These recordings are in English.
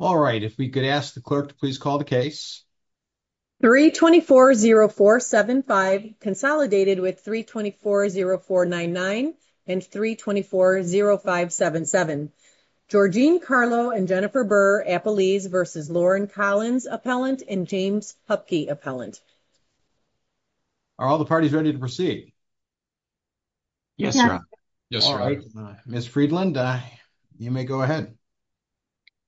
All right. If we could ask the clerk to please call the case. 3 24 0 4 75 consolidated with 3 24 0 4 99 and 3 24 0 5 77 Georgine Carlo and Jennifer Burr Apple leaves versus Lauren Collins appellant and James Hupke appellant. Are all the parties ready to proceed? Yes. All right, Miss Friedland. You may go ahead.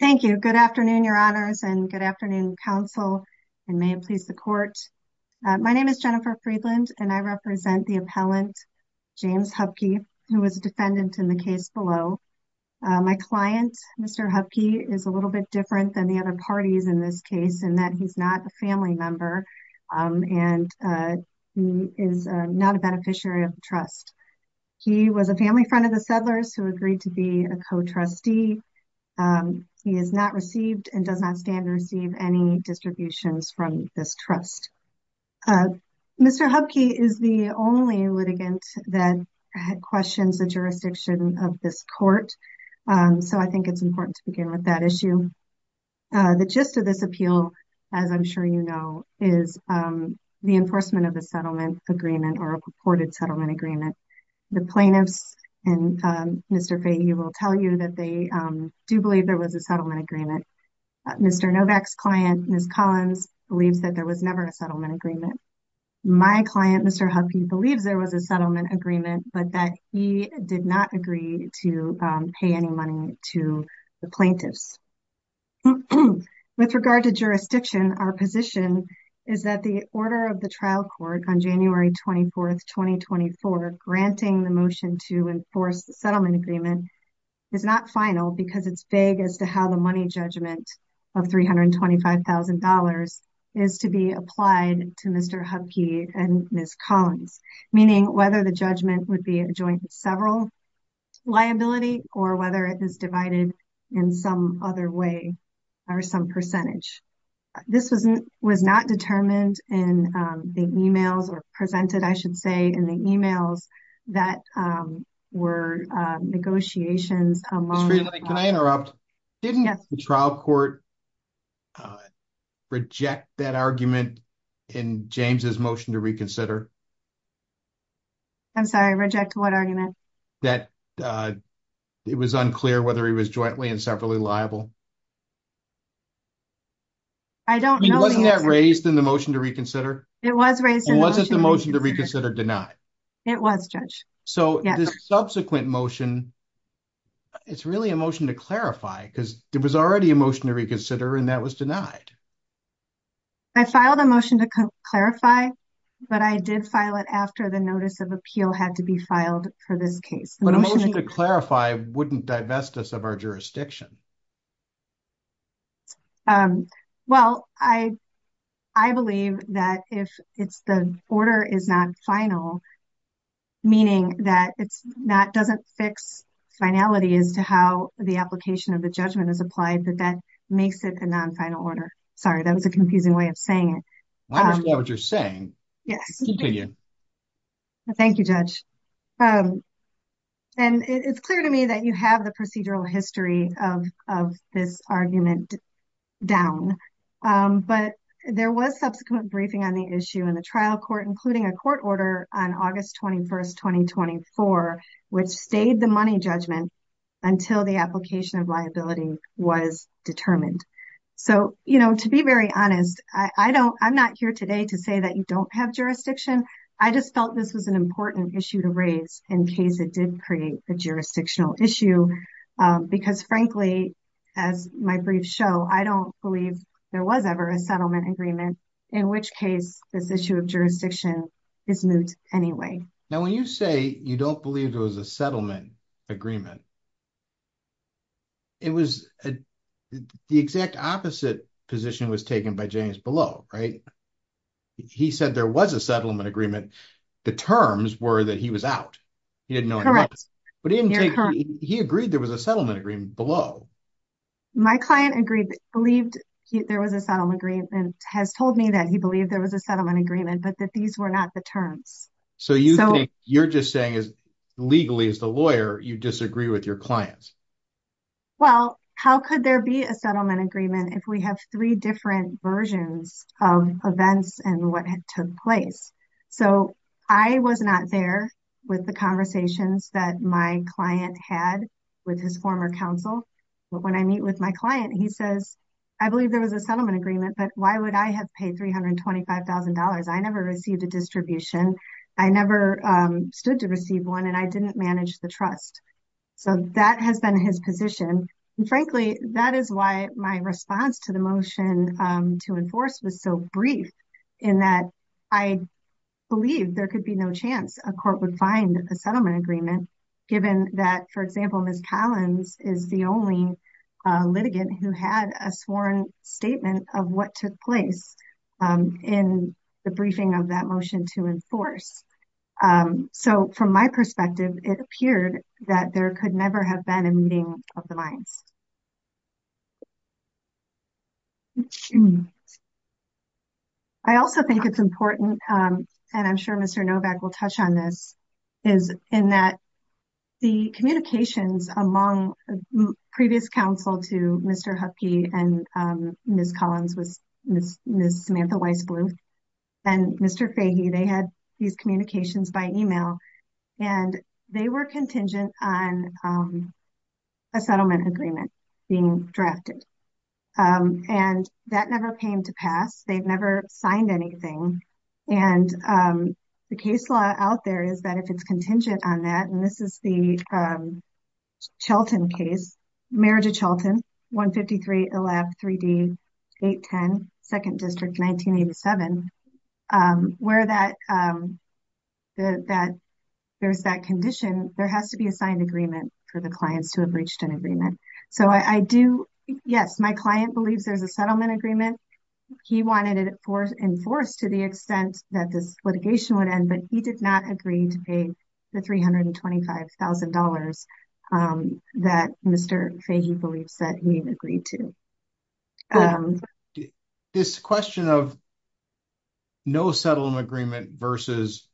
Thank you. Good afternoon, your honors and good afternoon, counsel and may it please the court. My name is Jennifer Friedland and I represent the appellant James Hupke, who was a defendant in the case below. My client, Mr Hupke, is a little bit different than the other parties in this case in that he's not a family member. Um, and, uh, he is not a beneficiary of the trust. He was a family friend of the settlers who agreed to be a co trustee. Um, he has not received and does not stand to receive any distributions from this trust. Uh, Mr Hupke is the only litigant that questions the jurisdiction of this court. Um, so I think it's important to begin with that issue. Uh, the gist of this appeal, as I'm sure you know, is, um, the enforcement of the settlement agreement or a purported settlement agreement. The plaintiffs and, um, Mr. Fahey will tell you that they, um, do believe there was a settlement agreement. Uh, Mr. Novak's client, Ms. Collins, believes that there was never a settlement agreement. My client, Mr. Hupke, believes there was a settlement agreement, but that he did not agree to, um, pay any money to the plaintiffs. With regard to jurisdiction, our position is that the order of the trial court on January 24th, 2024, granting the motion to enforce the settlement agreement is not final because it's vague as to how the money judgment of $325,000 is to be applied to Mr. Hupke and Ms. Collins, meaning whether the judgment would be a joint several liability or whether it is divided in some other way or some percentage. This was not determined in, um, the emails or presented, I should say, in the emails that, um, were negotiations among... Ms. Friedland, can I interrupt? Didn't the trial court, uh, reject that argument in James's motion to reconsider? I'm sorry, reject what argument? That, uh, it was unclear whether he was jointly and separately liable. I don't know... Wasn't that raised in the motion to reconsider? It was raised in the motion to reconsider. Was the motion to reconsider denied? It was, Judge. So this subsequent motion, it's really a motion to clarify because there was already a motion to reconsider and that was denied. I filed a motion to clarify, but I did file it after the notice of appeal had to be filed for this case. But a motion to clarify wouldn't divest us of our jurisdiction. Um, well, I, I believe that if it's the order is not final, meaning that it's not, doesn't fix finality as to how the application of the judgment is applied, that that makes it a non-final order. Sorry, that was a confusing way of saying it. I understand what you're saying. Yes. Thank you, Judge. Um, and it's clear to me that you have the procedural history of the case and you have this argument down. Um, but there was subsequent briefing on the issue in the trial court, including a court order on August 21st, 2024, which stayed the money judgment until the application of liability was determined. So, you know, to be very honest, I don't, I'm not here today to say that you don't have jurisdiction. I just felt this was an important issue to raise in case it did create a jurisdictional issue. Um, because frankly, as my brief show, I don't believe there was ever a settlement agreement in which case this issue of jurisdiction is moved anyway. Now, when you say you don't believe it was a settlement agreement, it was the exact opposite position was taken by James below, right? He said there was a settlement agreement. The terms were that he was out. He didn't know what he agreed. There was a settlement agreement below. My client agreed, believed there was a settlement agreement has told me that he believed there was a settlement agreement, but that these were not the terms. So you think you're just saying is legally is the lawyer. You disagree with your clients. Well, how could there be a settlement agreement if we have three different versions of events and what had took place? So I was not there with the conversations that my client had with his former counsel. But when I meet with my client, he says, I believe there was a settlement agreement, but why would I have paid $325,000? I never received a distribution. I never, um, stood to receive one and I didn't manage the trust. So that has been his position. And frankly, that is why my response to the motion to enforce was so brief in that I believe there could be no chance a court would find a settlement agreement given that, for example, Miss Collins is the only litigant who had a sworn statement of what took place, um, in the briefing of that motion to enforce. Um, so from my perspective, it appeared that there could never have been a settlement agreement given that Miss Collins was the only litigant who had a sworn statement of what took place in the briefing of the mines. I also think it's important, um, and I'm sure Mr. Novak will touch on this is in that the communications among previous counsel to Mr. Huckie and, um, Miss Collins, a settlement agreement being drafted, um, and that never came to pass. They've never signed anything. And, um, the case law out there is that if it's contingent on that, and this is the, um, Chelton case, marriage of Chelton, 153, 11, 3D, 810, second district, 1987, um, where that, um, that there's that condition, there has to be a signed agreement for the clients to have reached an agreement. So I do, yes, my client believes there's a settlement agreement. He wanted it enforced to the extent that this litigation would end, but he did not agree to pay the $325,000, um, that Mr. Fahey believes that he agreed to. Um, this question of no settlement agreement versus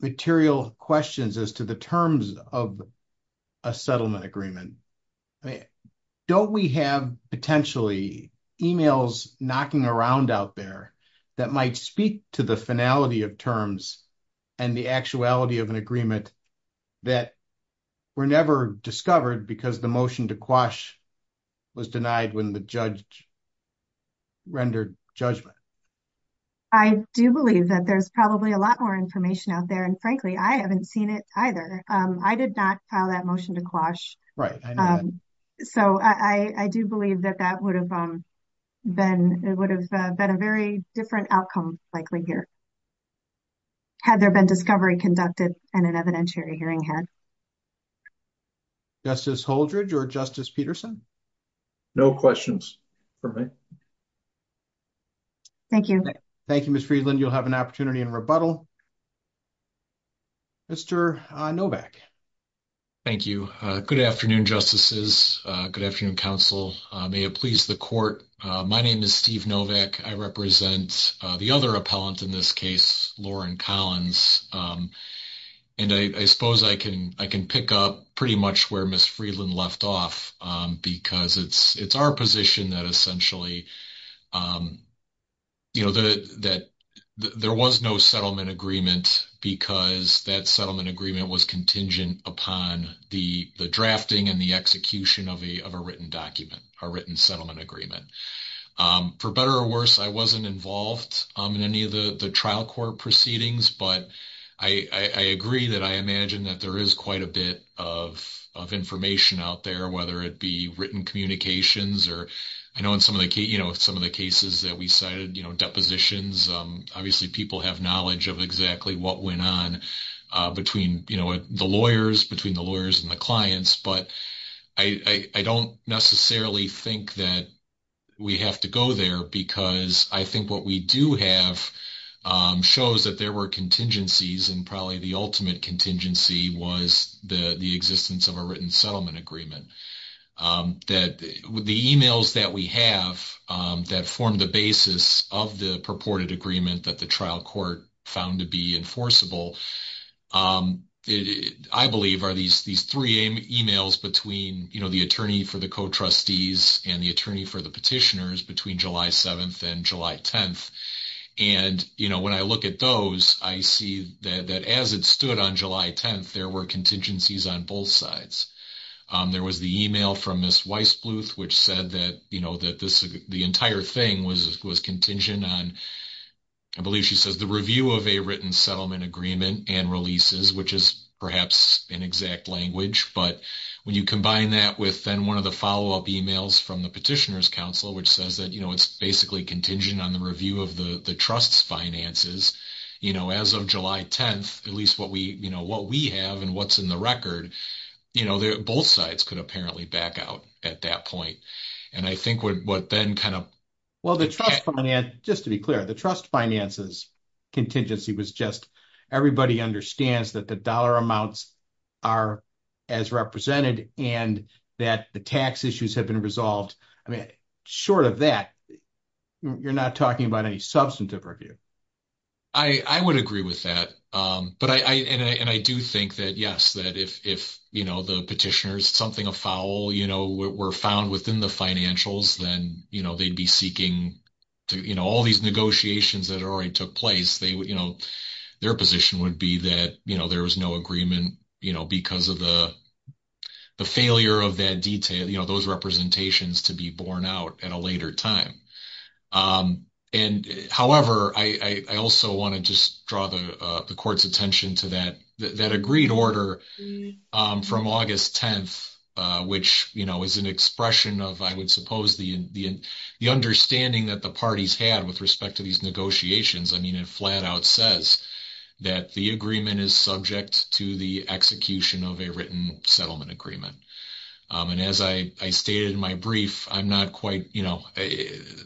material questions as to the terms of a settlement agreement, I mean, don't we have potentially emails knocking around out there that might speak to the finality of terms and the actuality of an agreement that were never discovered because the motion to quash was denied when the judge rendered judgment, I do believe that there's probably a lot more information out there. And frankly, I haven't seen it either. Um, I did not file that motion to quash. So I, I do believe that that would have, um, been, it would have been a very different outcome likely here. Had there been discovery conducted and an evidentiary hearing had justice Holdridge or justice Peterson? No questions for me. Thank you. Thank you, Ms. Friedland. You'll have an opportunity in rebuttal. Mr. Novak. Thank you. Uh, good afternoon, justices. Uh, good afternoon council. Uh, may it please the court. Uh, my name is Steve Novak. I represent, uh, the other appellant in this case, Lauren Collins. Um, and I, I suppose I can, I can pick up pretty much where Ms. Friedland left off, um, because it's, it's our position that essentially, um, you know, the, that there was no settlement agreement because that settlement agreement was contingent upon the, the drafting and the execution of a, of a written document, a written settlement agreement, um, for better or worse, I wasn't involved in any of the, the trial court proceedings. But I, I agree that I imagine that there is quite a bit of, of information out there, whether it be written communications or I know in some of the, you know, some of the cases that we cited, you know, depositions. Um, obviously people have knowledge of exactly what went on, uh, between, you know, the lawyers, between the lawyers and the clients, but I, I, I don't necessarily think that we have to go there because I think what we do have, um, shows that there were contingencies and probably the ultimate contingency was the, the existence of a written settlement agreement. Um, that the emails that we have, um, that formed the basis of the purported agreement that the trial court found to be enforceable, um, I believe are these, these three emails between, you know, the attorney for the co-trustees and the attorney for the petitioners between July 7th and July 10th. And, you know, when I look at those, I see that as it stood on July 10th, there were contingencies on both sides. Um, there was the email from Ms. Weissbluth, which said that, you know, that this, the entire thing was, was contingent on, I believe she says the review of a written settlement agreement and releases, which is perhaps an exact language. But when you combine that with then one of the follow-up emails from the petitioners council, which says that, you know, it's basically contingent on the review of the, the trust's finances, you know, as of July 10th, at least what we, you know, what we have and what's in the record, you know, both sides could apparently back out at that point. And I think what, what then kind of. Well, the trust finance, just to be clear, the trust finances contingency was just, everybody understands that the dollar amounts are as represented and that the tax issues have been resolved. I mean, short of that, you're not talking about any substantive review. I would agree with that. But I, and I, and I do think that, yes, that if, if, you know, the petitioners, something a foul, you know, were found within the financials, then, you know, they'd be seeking to, you know, all these negotiations that already took place, they would, you know, their position would be that, you know, there was no agreement, you know, because of the, the failure of that detail, you know, those representations to be borne out at a later time. And however, I, I also want to just draw the, the court's attention to that, that agreed order from August 10th, which, you know, is an expression of, I would suppose the, the, the understanding that the parties had with respect to these negotiations. I mean, it flat out says that the agreement is subject to the execution of a written settlement agreement. And as I, I stated in my brief, I'm not quite, you know,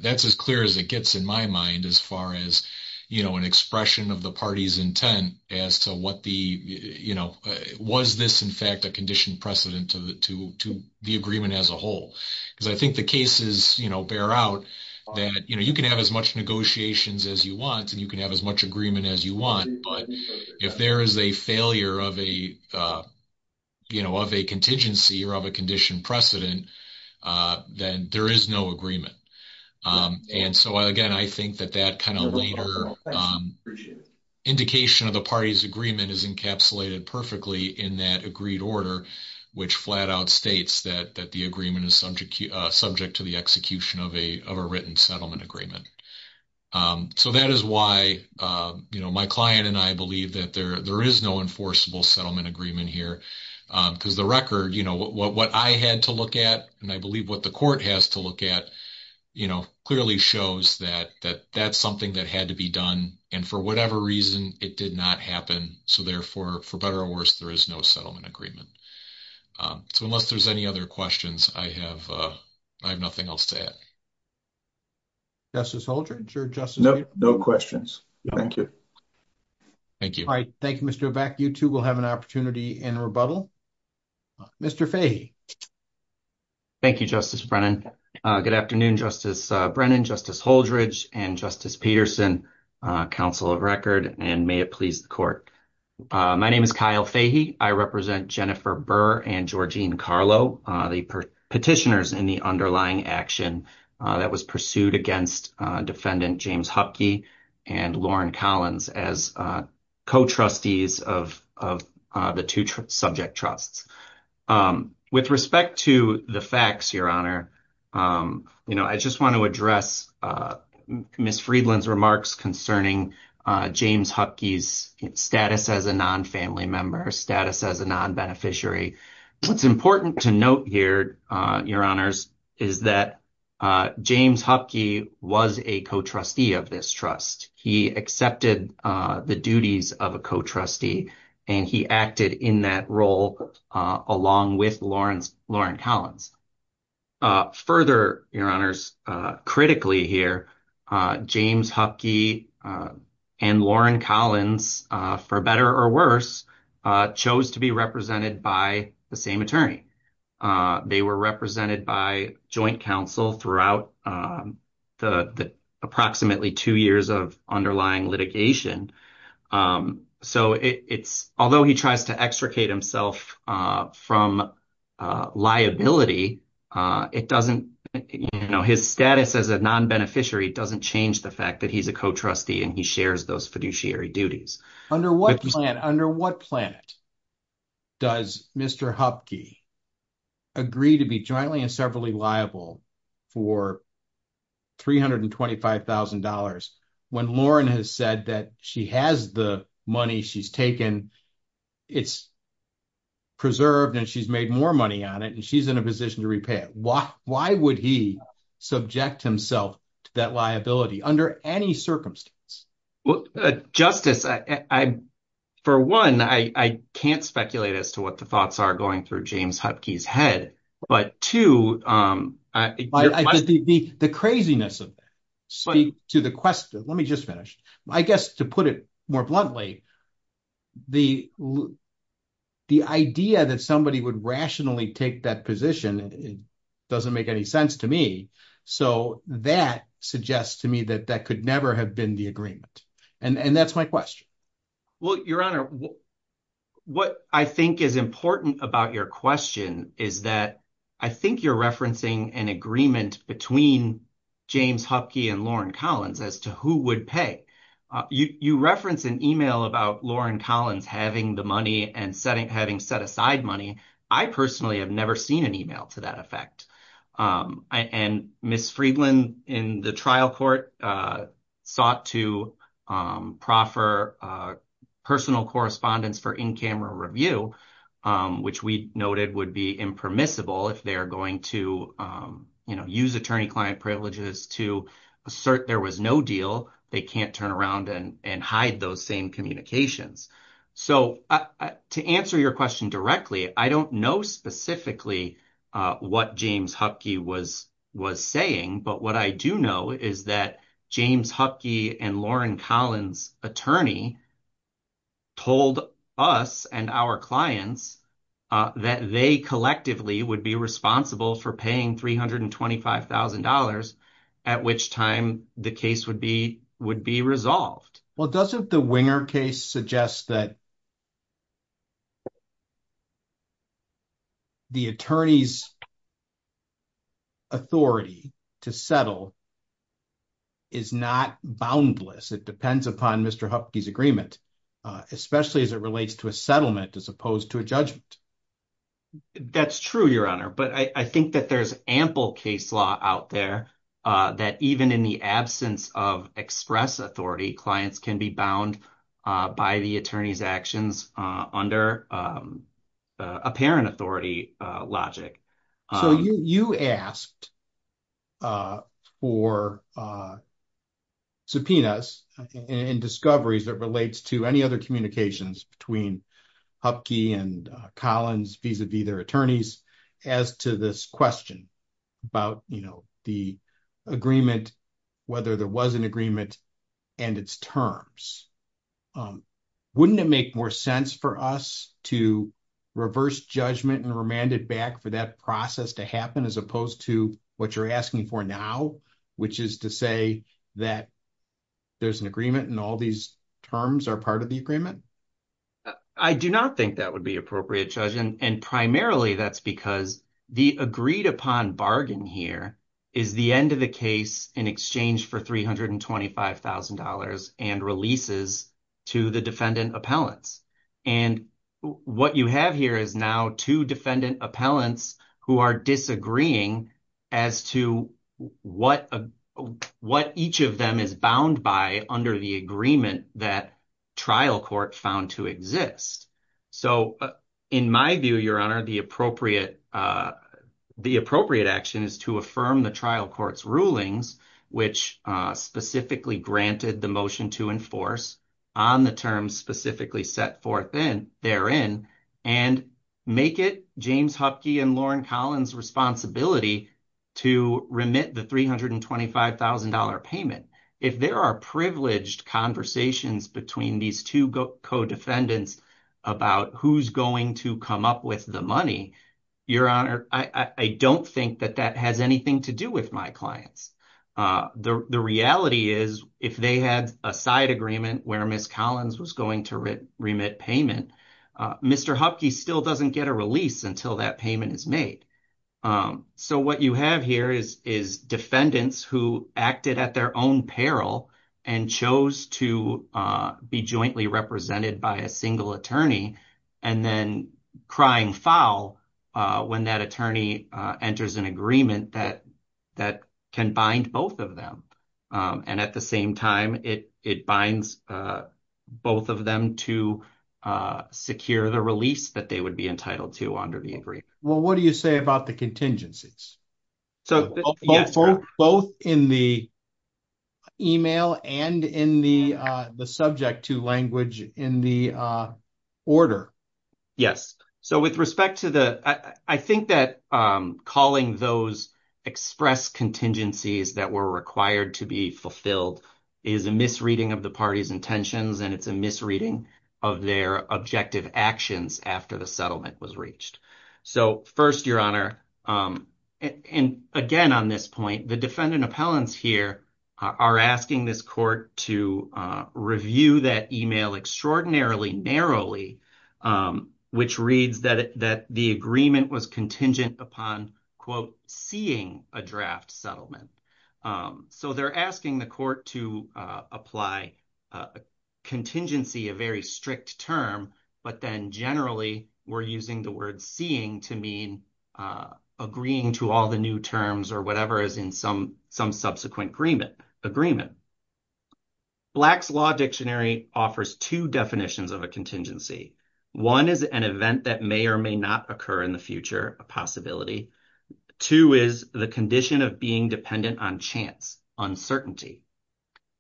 that's as clear as it gets in my mind, as far as, you know, an expression of the party's intent as to what the, you know, was this in fact, a conditioned precedent to the, to, to the agreement as a whole, because I think the cases, you know, bear out that, you know, you can have as much negotiations as you want and you can have as much agreement as you want, but if there is a failure of a, you know, of a contingency or of a conditioned precedent, then there is no agreement. And so again, I think that that kind of later indication of the party's agreement is encapsulated perfectly in that agreed order, which flat out states that, that the agreement is subject, subject to the execution of a, of a written settlement agreement. So that is why, you know, my client and I believe that there, there is no enforceable settlement agreement here, because the record, you know, what, what I had to look at, and I believe what the court has to look at, you know, clearly shows that, that that's something that had to be done and for whatever reason it did not happen, so therefore, for better or worse, there is no settlement agreement. So unless there's any other questions, I have, I have nothing else to add. Justice Holdren. Sure. Justice. No, no questions. Thank you. Thank you. All right. Thank you, Mr. Beck. You too will have an opportunity in rebuttal. Mr. Fahy. Thank you, Justice Brennan. Good afternoon, Justice Brennan, Justice Holdren, and Justice Peterson, counsel of record. And may it please the court. My name is Kyle Fahy. I represent Jennifer Burr and Georgine Carlo, the petitioners in the underlying action that was pursued against defendant James Hupke and Lauren Collins as co-trustees of, of the two subject trusts. With respect to the facts, Your Honor, you know, I just want to address Ms. Friedland's remarks concerning James Hupke's status as a non-family member, status as a non-beneficiary. What's important to note here, Your Honors, is that James Hupke was a co-trustee of this trust. He accepted the duties of a co-trustee and he acted in that role along with Lauren Collins. Further, Your Honors, critically here, James Hupke and Lauren Collins, for better or worse, chose to be represented by the same attorney. They were represented by joint counsel throughout the approximately two years of underlying litigation. So it's, although he tries to extricate himself from liability, it doesn't, you know, his status as a non-beneficiary doesn't change the fact that he's a co-trustee and he shares those fiduciary duties. Under what plan, under what plan does Mr. Hupke agree to be jointly and severally liable for $325,000 when Lauren has said that she has the money she's taken, it's preserved, and she's made more money on it, and she's in a position to repay it? Why, why would he subject himself to that liability under any circumstance? Well, Justice, for one, I can't speculate as to what the thoughts are going through James Hupke's head. But two, um, the craziness of it, to the question, let me just finish. I guess to put it more bluntly, the, the idea that somebody would rationally take that position, it doesn't make any sense to me. So that suggests to me that that could never have been the agreement, and that's my question. Well, Your Honor, what I think is important about your question is that I think you're referencing an agreement between James Hupke and Lauren Collins as to who would pay. You, you reference an email about Lauren Collins having the money and setting, having set aside money. I personally have never seen an email to that effect. And Ms. Friedland in the trial court sought to, um, proffer, uh, personal correspondence for in-camera review, um, which we noted would be impermissible if they're going to, um, you know, use attorney-client privileges to assert there was no deal, they can't turn around and, and hide those same communications. So to answer your question directly, I don't know specifically, uh, what James Hupke was, was saying, but what I do know is that James Hupke and Lauren Collins' attorney told us and our clients, uh, that they collectively would be responsible for paying $325,000 at which time the case would be, would be resolved. Well, doesn't the Winger case suggest that the attorney's authority to settle is not boundless, it depends upon Mr. Hupke's agreement, uh, especially as it relates to a settlement as opposed to a That's true, Your Honor. But I think that there's ample case law out there, uh, that even in the absence of express authority, clients can be bound, uh, by the attorney's actions, uh, under, um, uh, apparent authority, uh, logic. So you, you asked, uh, for, uh, subpoenas and discoveries that relates to any other communications between Hupke and Collins vis-a-vis their attorneys as to this question about, you know, the agreement, whether there was an agreement and its terms, um, wouldn't it make more sense for us to reverse judgment and remand it back for that process to happen as opposed to what you're asking for now, which is to say that there's an agreement and all these terms are part of the agreement? I do not think that would be appropriate, Judge. And primarily that's because the agreed upon bargain here is the end of the case in exchange for $325,000 and releases to the defendant appellants. And what you have here is now two defendant appellants who are disagreeing as to what, uh, what each of them is bound by under the agreement that trial court found to exist. So, uh, in my view, your honor, the appropriate, uh, the appropriate action is to affirm the trial court's rulings, which, uh, specifically granted the motion to enforce on the terms specifically set forth in therein and make it James Hupke and Lauren Collins responsibility to remit the $325,000 payment, if there are privileged conversations between these two co-defendants about who's going to come up with the money, your honor, I don't think that that has anything to do with my clients, uh, the, the reality is if they had a side agreement where Ms. Collins was going to remit payment, uh, Mr. Hupke still doesn't get a release until that payment is made. Um, so what you have here is, is defendants who acted at their own peril and chose to, uh, be jointly represented by a single attorney and then crying foul, uh, when that attorney, uh, enters an agreement that, that can bind both of them, um, and at the same time, it, it binds, uh, both of them to, uh, secure the release that they would be entitled to under the agreement. Well, what do you say about the contingencies? So both in the email and in the, uh, the subject to language in the, uh, order. Yes. So with respect to the, I think that, um, calling those express contingencies that were required to be fulfilled is a misreading of the party's intentions and it's a misreading of their objective actions after the settlement was reached. So first your honor, um, and again, on this point, the defendant appellants here are asking this court to, uh, review that email extraordinarily narrowly, um, which reads that, that the agreement was contingent upon quote, seeing a draft settlement. Um, so they're asking the court to, uh, apply a contingency, a very term, but then generally we're using the word seeing to mean, uh, agreeing to all the new terms or whatever is in some, some subsequent agreement, agreement. Black's Law Dictionary offers two definitions of a contingency. One is an event that may or may not occur in the future, a possibility. Two is the condition of being dependent on chance, uncertainty.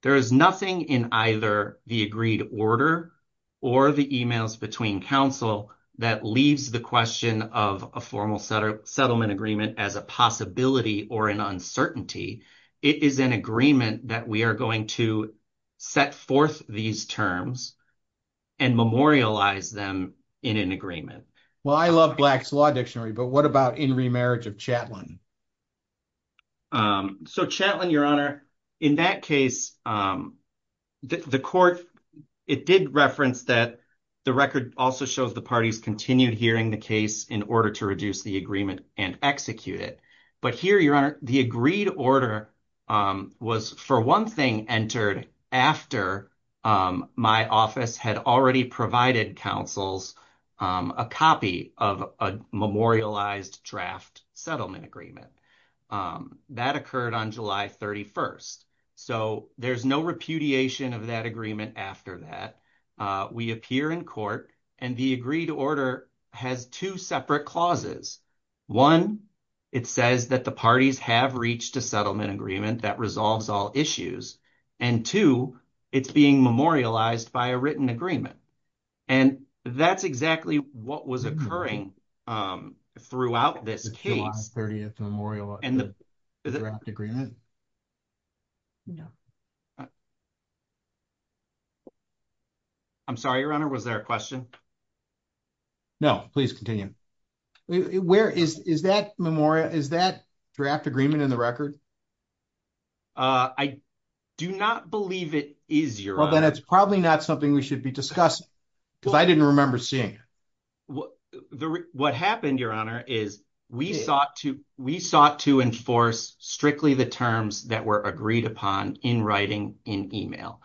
There is nothing in either the agreed order or the emails between council that leaves the question of a formal setter settlement agreement as a possibility or an uncertainty. It is an agreement that we are going to set forth these terms and memorialize them in an agreement. Well, I love Black's Law Dictionary, but what about in remarriage of Chatelain? Um, so Chatelain, Your Honor, in that case, um, the court, it did reference that the record also shows the parties continued hearing the case in order to reduce the agreement and execute it. But here, Your Honor, the agreed order, um, was for one thing entered after, um, my office had already provided councils, um, a copy of a memorialized draft settlement agreement. Um, that occurred on July 31st. So there's no repudiation of that agreement after that. Uh, we appear in court and the agreed order has two separate clauses. One, it says that the parties have reached a settlement agreement that resolves all issues. And two, it's being memorialized by a written agreement. And that's exactly what was occurring, um, throughout this case. July 30th. Memorialized draft agreement? No. I'm sorry, Your Honor. Was there a question? No, please continue. Where is, is that memorial, is that draft agreement in the record? Uh, I do not believe it is, Your Honor. Well, then it's probably not something we should be discussing because I didn't remember seeing it. What, what happened, Your Honor, is we sought to, we sought to enforce strictly the terms that were agreed upon in writing in email,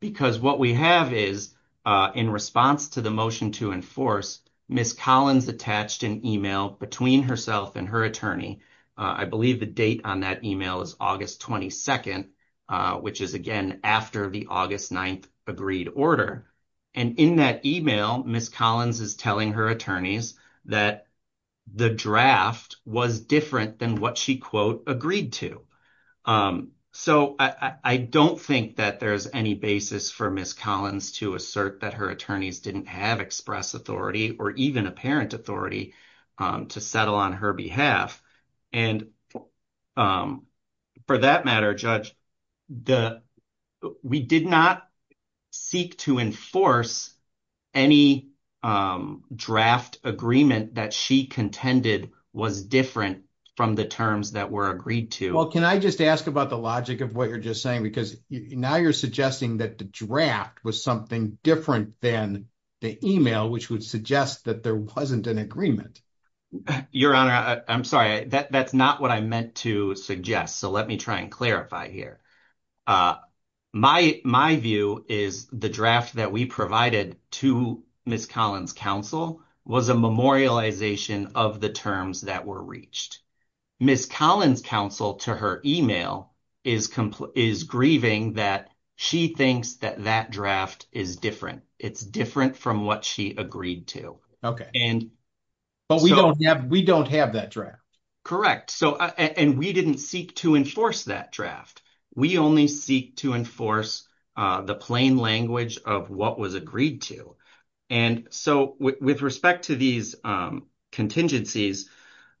because what we have is, uh, in response to the motion to enforce, Ms. Collins attached an email between herself and her attorney. Uh, I believe the date on that email is August 22nd, uh, which is again, after the August 9th agreed order. And in that email, Ms. Collins is telling her attorneys that the draft was different than what she quote, agreed to. Um, so I, I don't think that there's any basis for Ms. Collins to assert that her attorneys didn't have express authority or even apparent authority, um, to settle on her behalf and, um, for that matter, Judge, the, we did not seek to enforce any, um, draft agreement that she contended was different from the terms that were agreed to. Well, can I just ask about the logic of what you're just saying? Because now you're suggesting that the draft was something different than the email, which would suggest that there wasn't an agreement. Your Honor, I'm sorry, that that's not what I meant to suggest. So let me try and clarify here. Uh, my, my view is the draft that we provided to Ms. Collins counsel was a memorialization of the terms that were reached. Ms. Collins counsel to her email is completely, is grieving that she thinks that that draft is different. It's different from what she agreed to. Okay. And. But we don't have, we don't have that draft. Correct. So, and we didn't seek to enforce that draft. We only seek to enforce, uh, the plain language of what was agreed to. And so with respect to these, um, contingencies,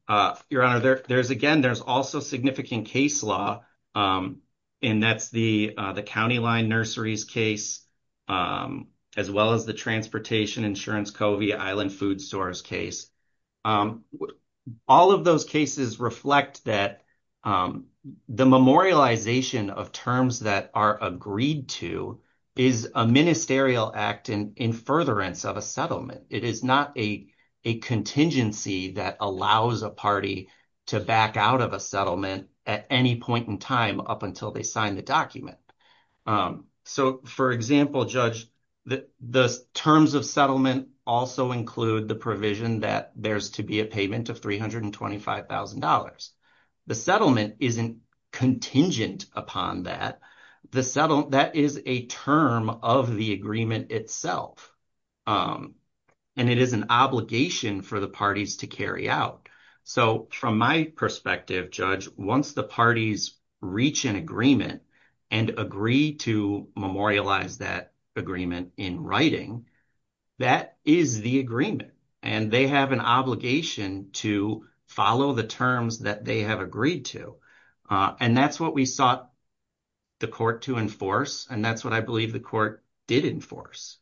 uh, your honor there there's, again, there's also significant case law, um, and that's the, uh, the County line nurseries case, um, as well as the transportation insurance, Covey Island food stores case. Um, all of those cases reflect that, um, the memorialization of terms that are agreed to is a ministerial act in, in furtherance of a settlement. It is not a, a contingency that allows a party to back out of a settlement at any point in time up until they sign the document. Um, so for example, judge, the terms of settlement also include the provision that there's to be a payment of $325,000. The settlement isn't contingent upon that. The settle, that is a term of the agreement itself. Um, and it is an obligation for the parties to carry out. So from my perspective, judge, once the parties reach an agreement and agree to memorialize that agreement in writing, that is the agreement and they have an obligation to follow the terms that they have agreed to. Uh, and that's what we sought the court to enforce. And that's what I believe the court did enforce.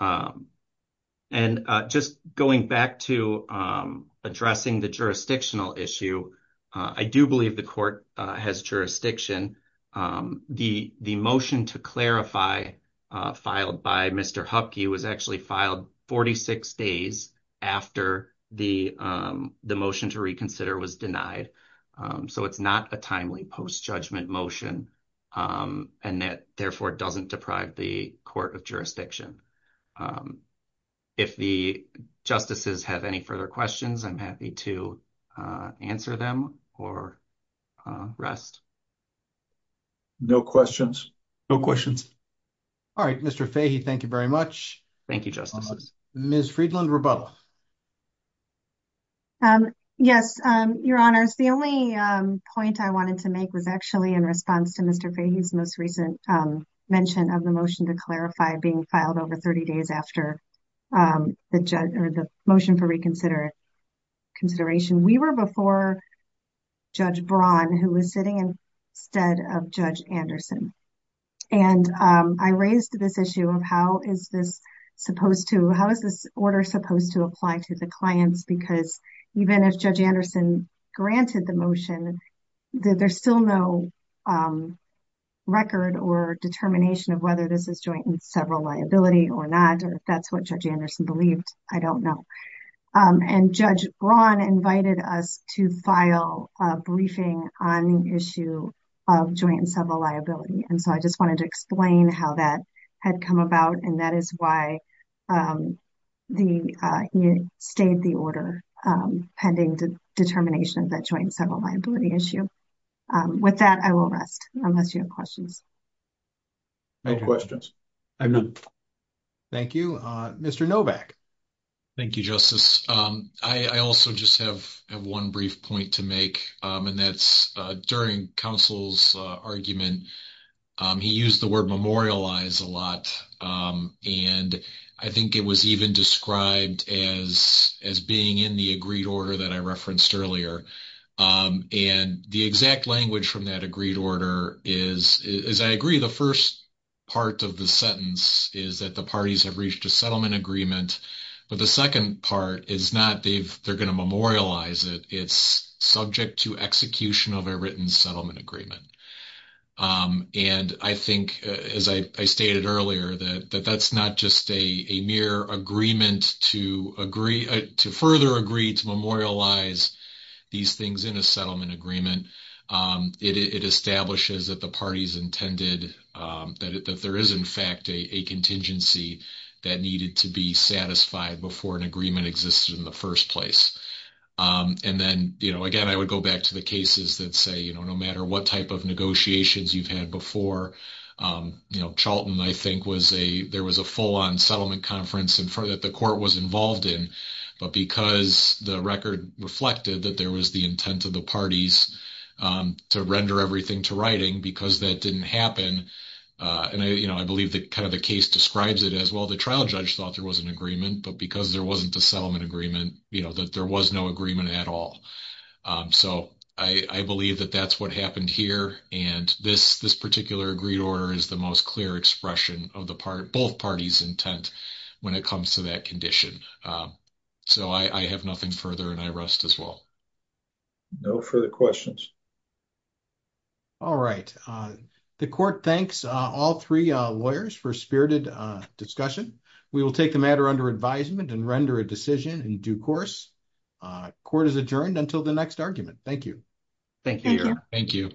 Um, and, uh, just going back to, um, addressing the jurisdictional issue. Uh, I do believe the court has jurisdiction. Um, the, the motion to clarify, uh, filed by Mr. Hupke was actually filed 46 days after the, um, the motion to reconsider was denied. Um, so it's not a timely post-judgment motion. Um, and that therefore it doesn't deprive the court of jurisdiction. Um, if the justices have any further questions, I'm happy to, uh, answer them or, uh, rest. No questions. No questions. All right, Mr. Thank you very much. Thank you, Justice. Ms. Friedland, rebuttal. Um, yes. Um, your honors, the only, um, point I wanted to make was actually in response to Mr. Fahy's most recent, um, mention of the motion to clarify being filed over 30 days after, um, the judge or the motion for reconsideration. We were before Judge Braun, who was sitting instead of Judge Anderson. And, um, I raised this issue of how is this supposed to, how is this order supposed to apply to the clients? Because even if Judge Anderson granted the motion, there's still no, um, record or determination of whether this is joint and several liability or not. Or if that's what Judge Anderson believed, I don't know. Um, and Judge Braun invited us to file a briefing on the issue of joint and several liability. And so I just wanted to explain how that had come about. And that is why, um, the, uh, he stayed the order, um, pending determination of that joint and several liability issue. Um, with that, I will rest unless you have questions. No questions. I have none. Thank you. Uh, Mr. Novak. Thank you, Justice. Um, I also just have one brief point to make. Um, and that's, uh, during counsel's, uh, argument, um, he used the word memorialize a lot, um, and I think it was even described as, as being in the agreed order that I referenced earlier. Um, and the exact language from that agreed order is, is I agree. The first part of the sentence is that the parties have reached a settlement agreement, but the second part is not, they've, they're going to memorialize it. It's subject to execution of a written settlement agreement. Um, and I think, uh, as I, I stated earlier that, that that's not just a, a mere agreement to agree to further agree to memorialize these things in a settlement agreement. Um, it, it, it establishes that the parties intended, um, that, that there is in fact, a, a contingency that needed to be satisfied before an agreement existed in the first place. Um, and then, you know, again, I would go back to the cases that say, you know, no matter what type of negotiations you've had before, um, you know, Charlton, I think was a, there was a full on settlement conference in front that the court was involved in, but because the record reflected that there was the intent of the parties, um, to render everything to writing because that didn't happen, uh, and I, you know, I believe that kind of the case describes it as well, the trial judge thought there was an agreement, but because there wasn't a settlement agreement, you know, that there was no agreement at all. Um, so I, I believe that that's what happened here. And this, this particular agreed order is the most clear expression of the part, both parties intent when it comes to that condition. Um, so I, I have nothing further and I rest as well. No further questions. All right. Uh, the court thanks, uh, all three, uh, lawyers for spirited, uh, discussion. We will take the matter under advisement and render a decision in due course. Uh, court is adjourned until the next argument. Thank you. Thank you. Thank you.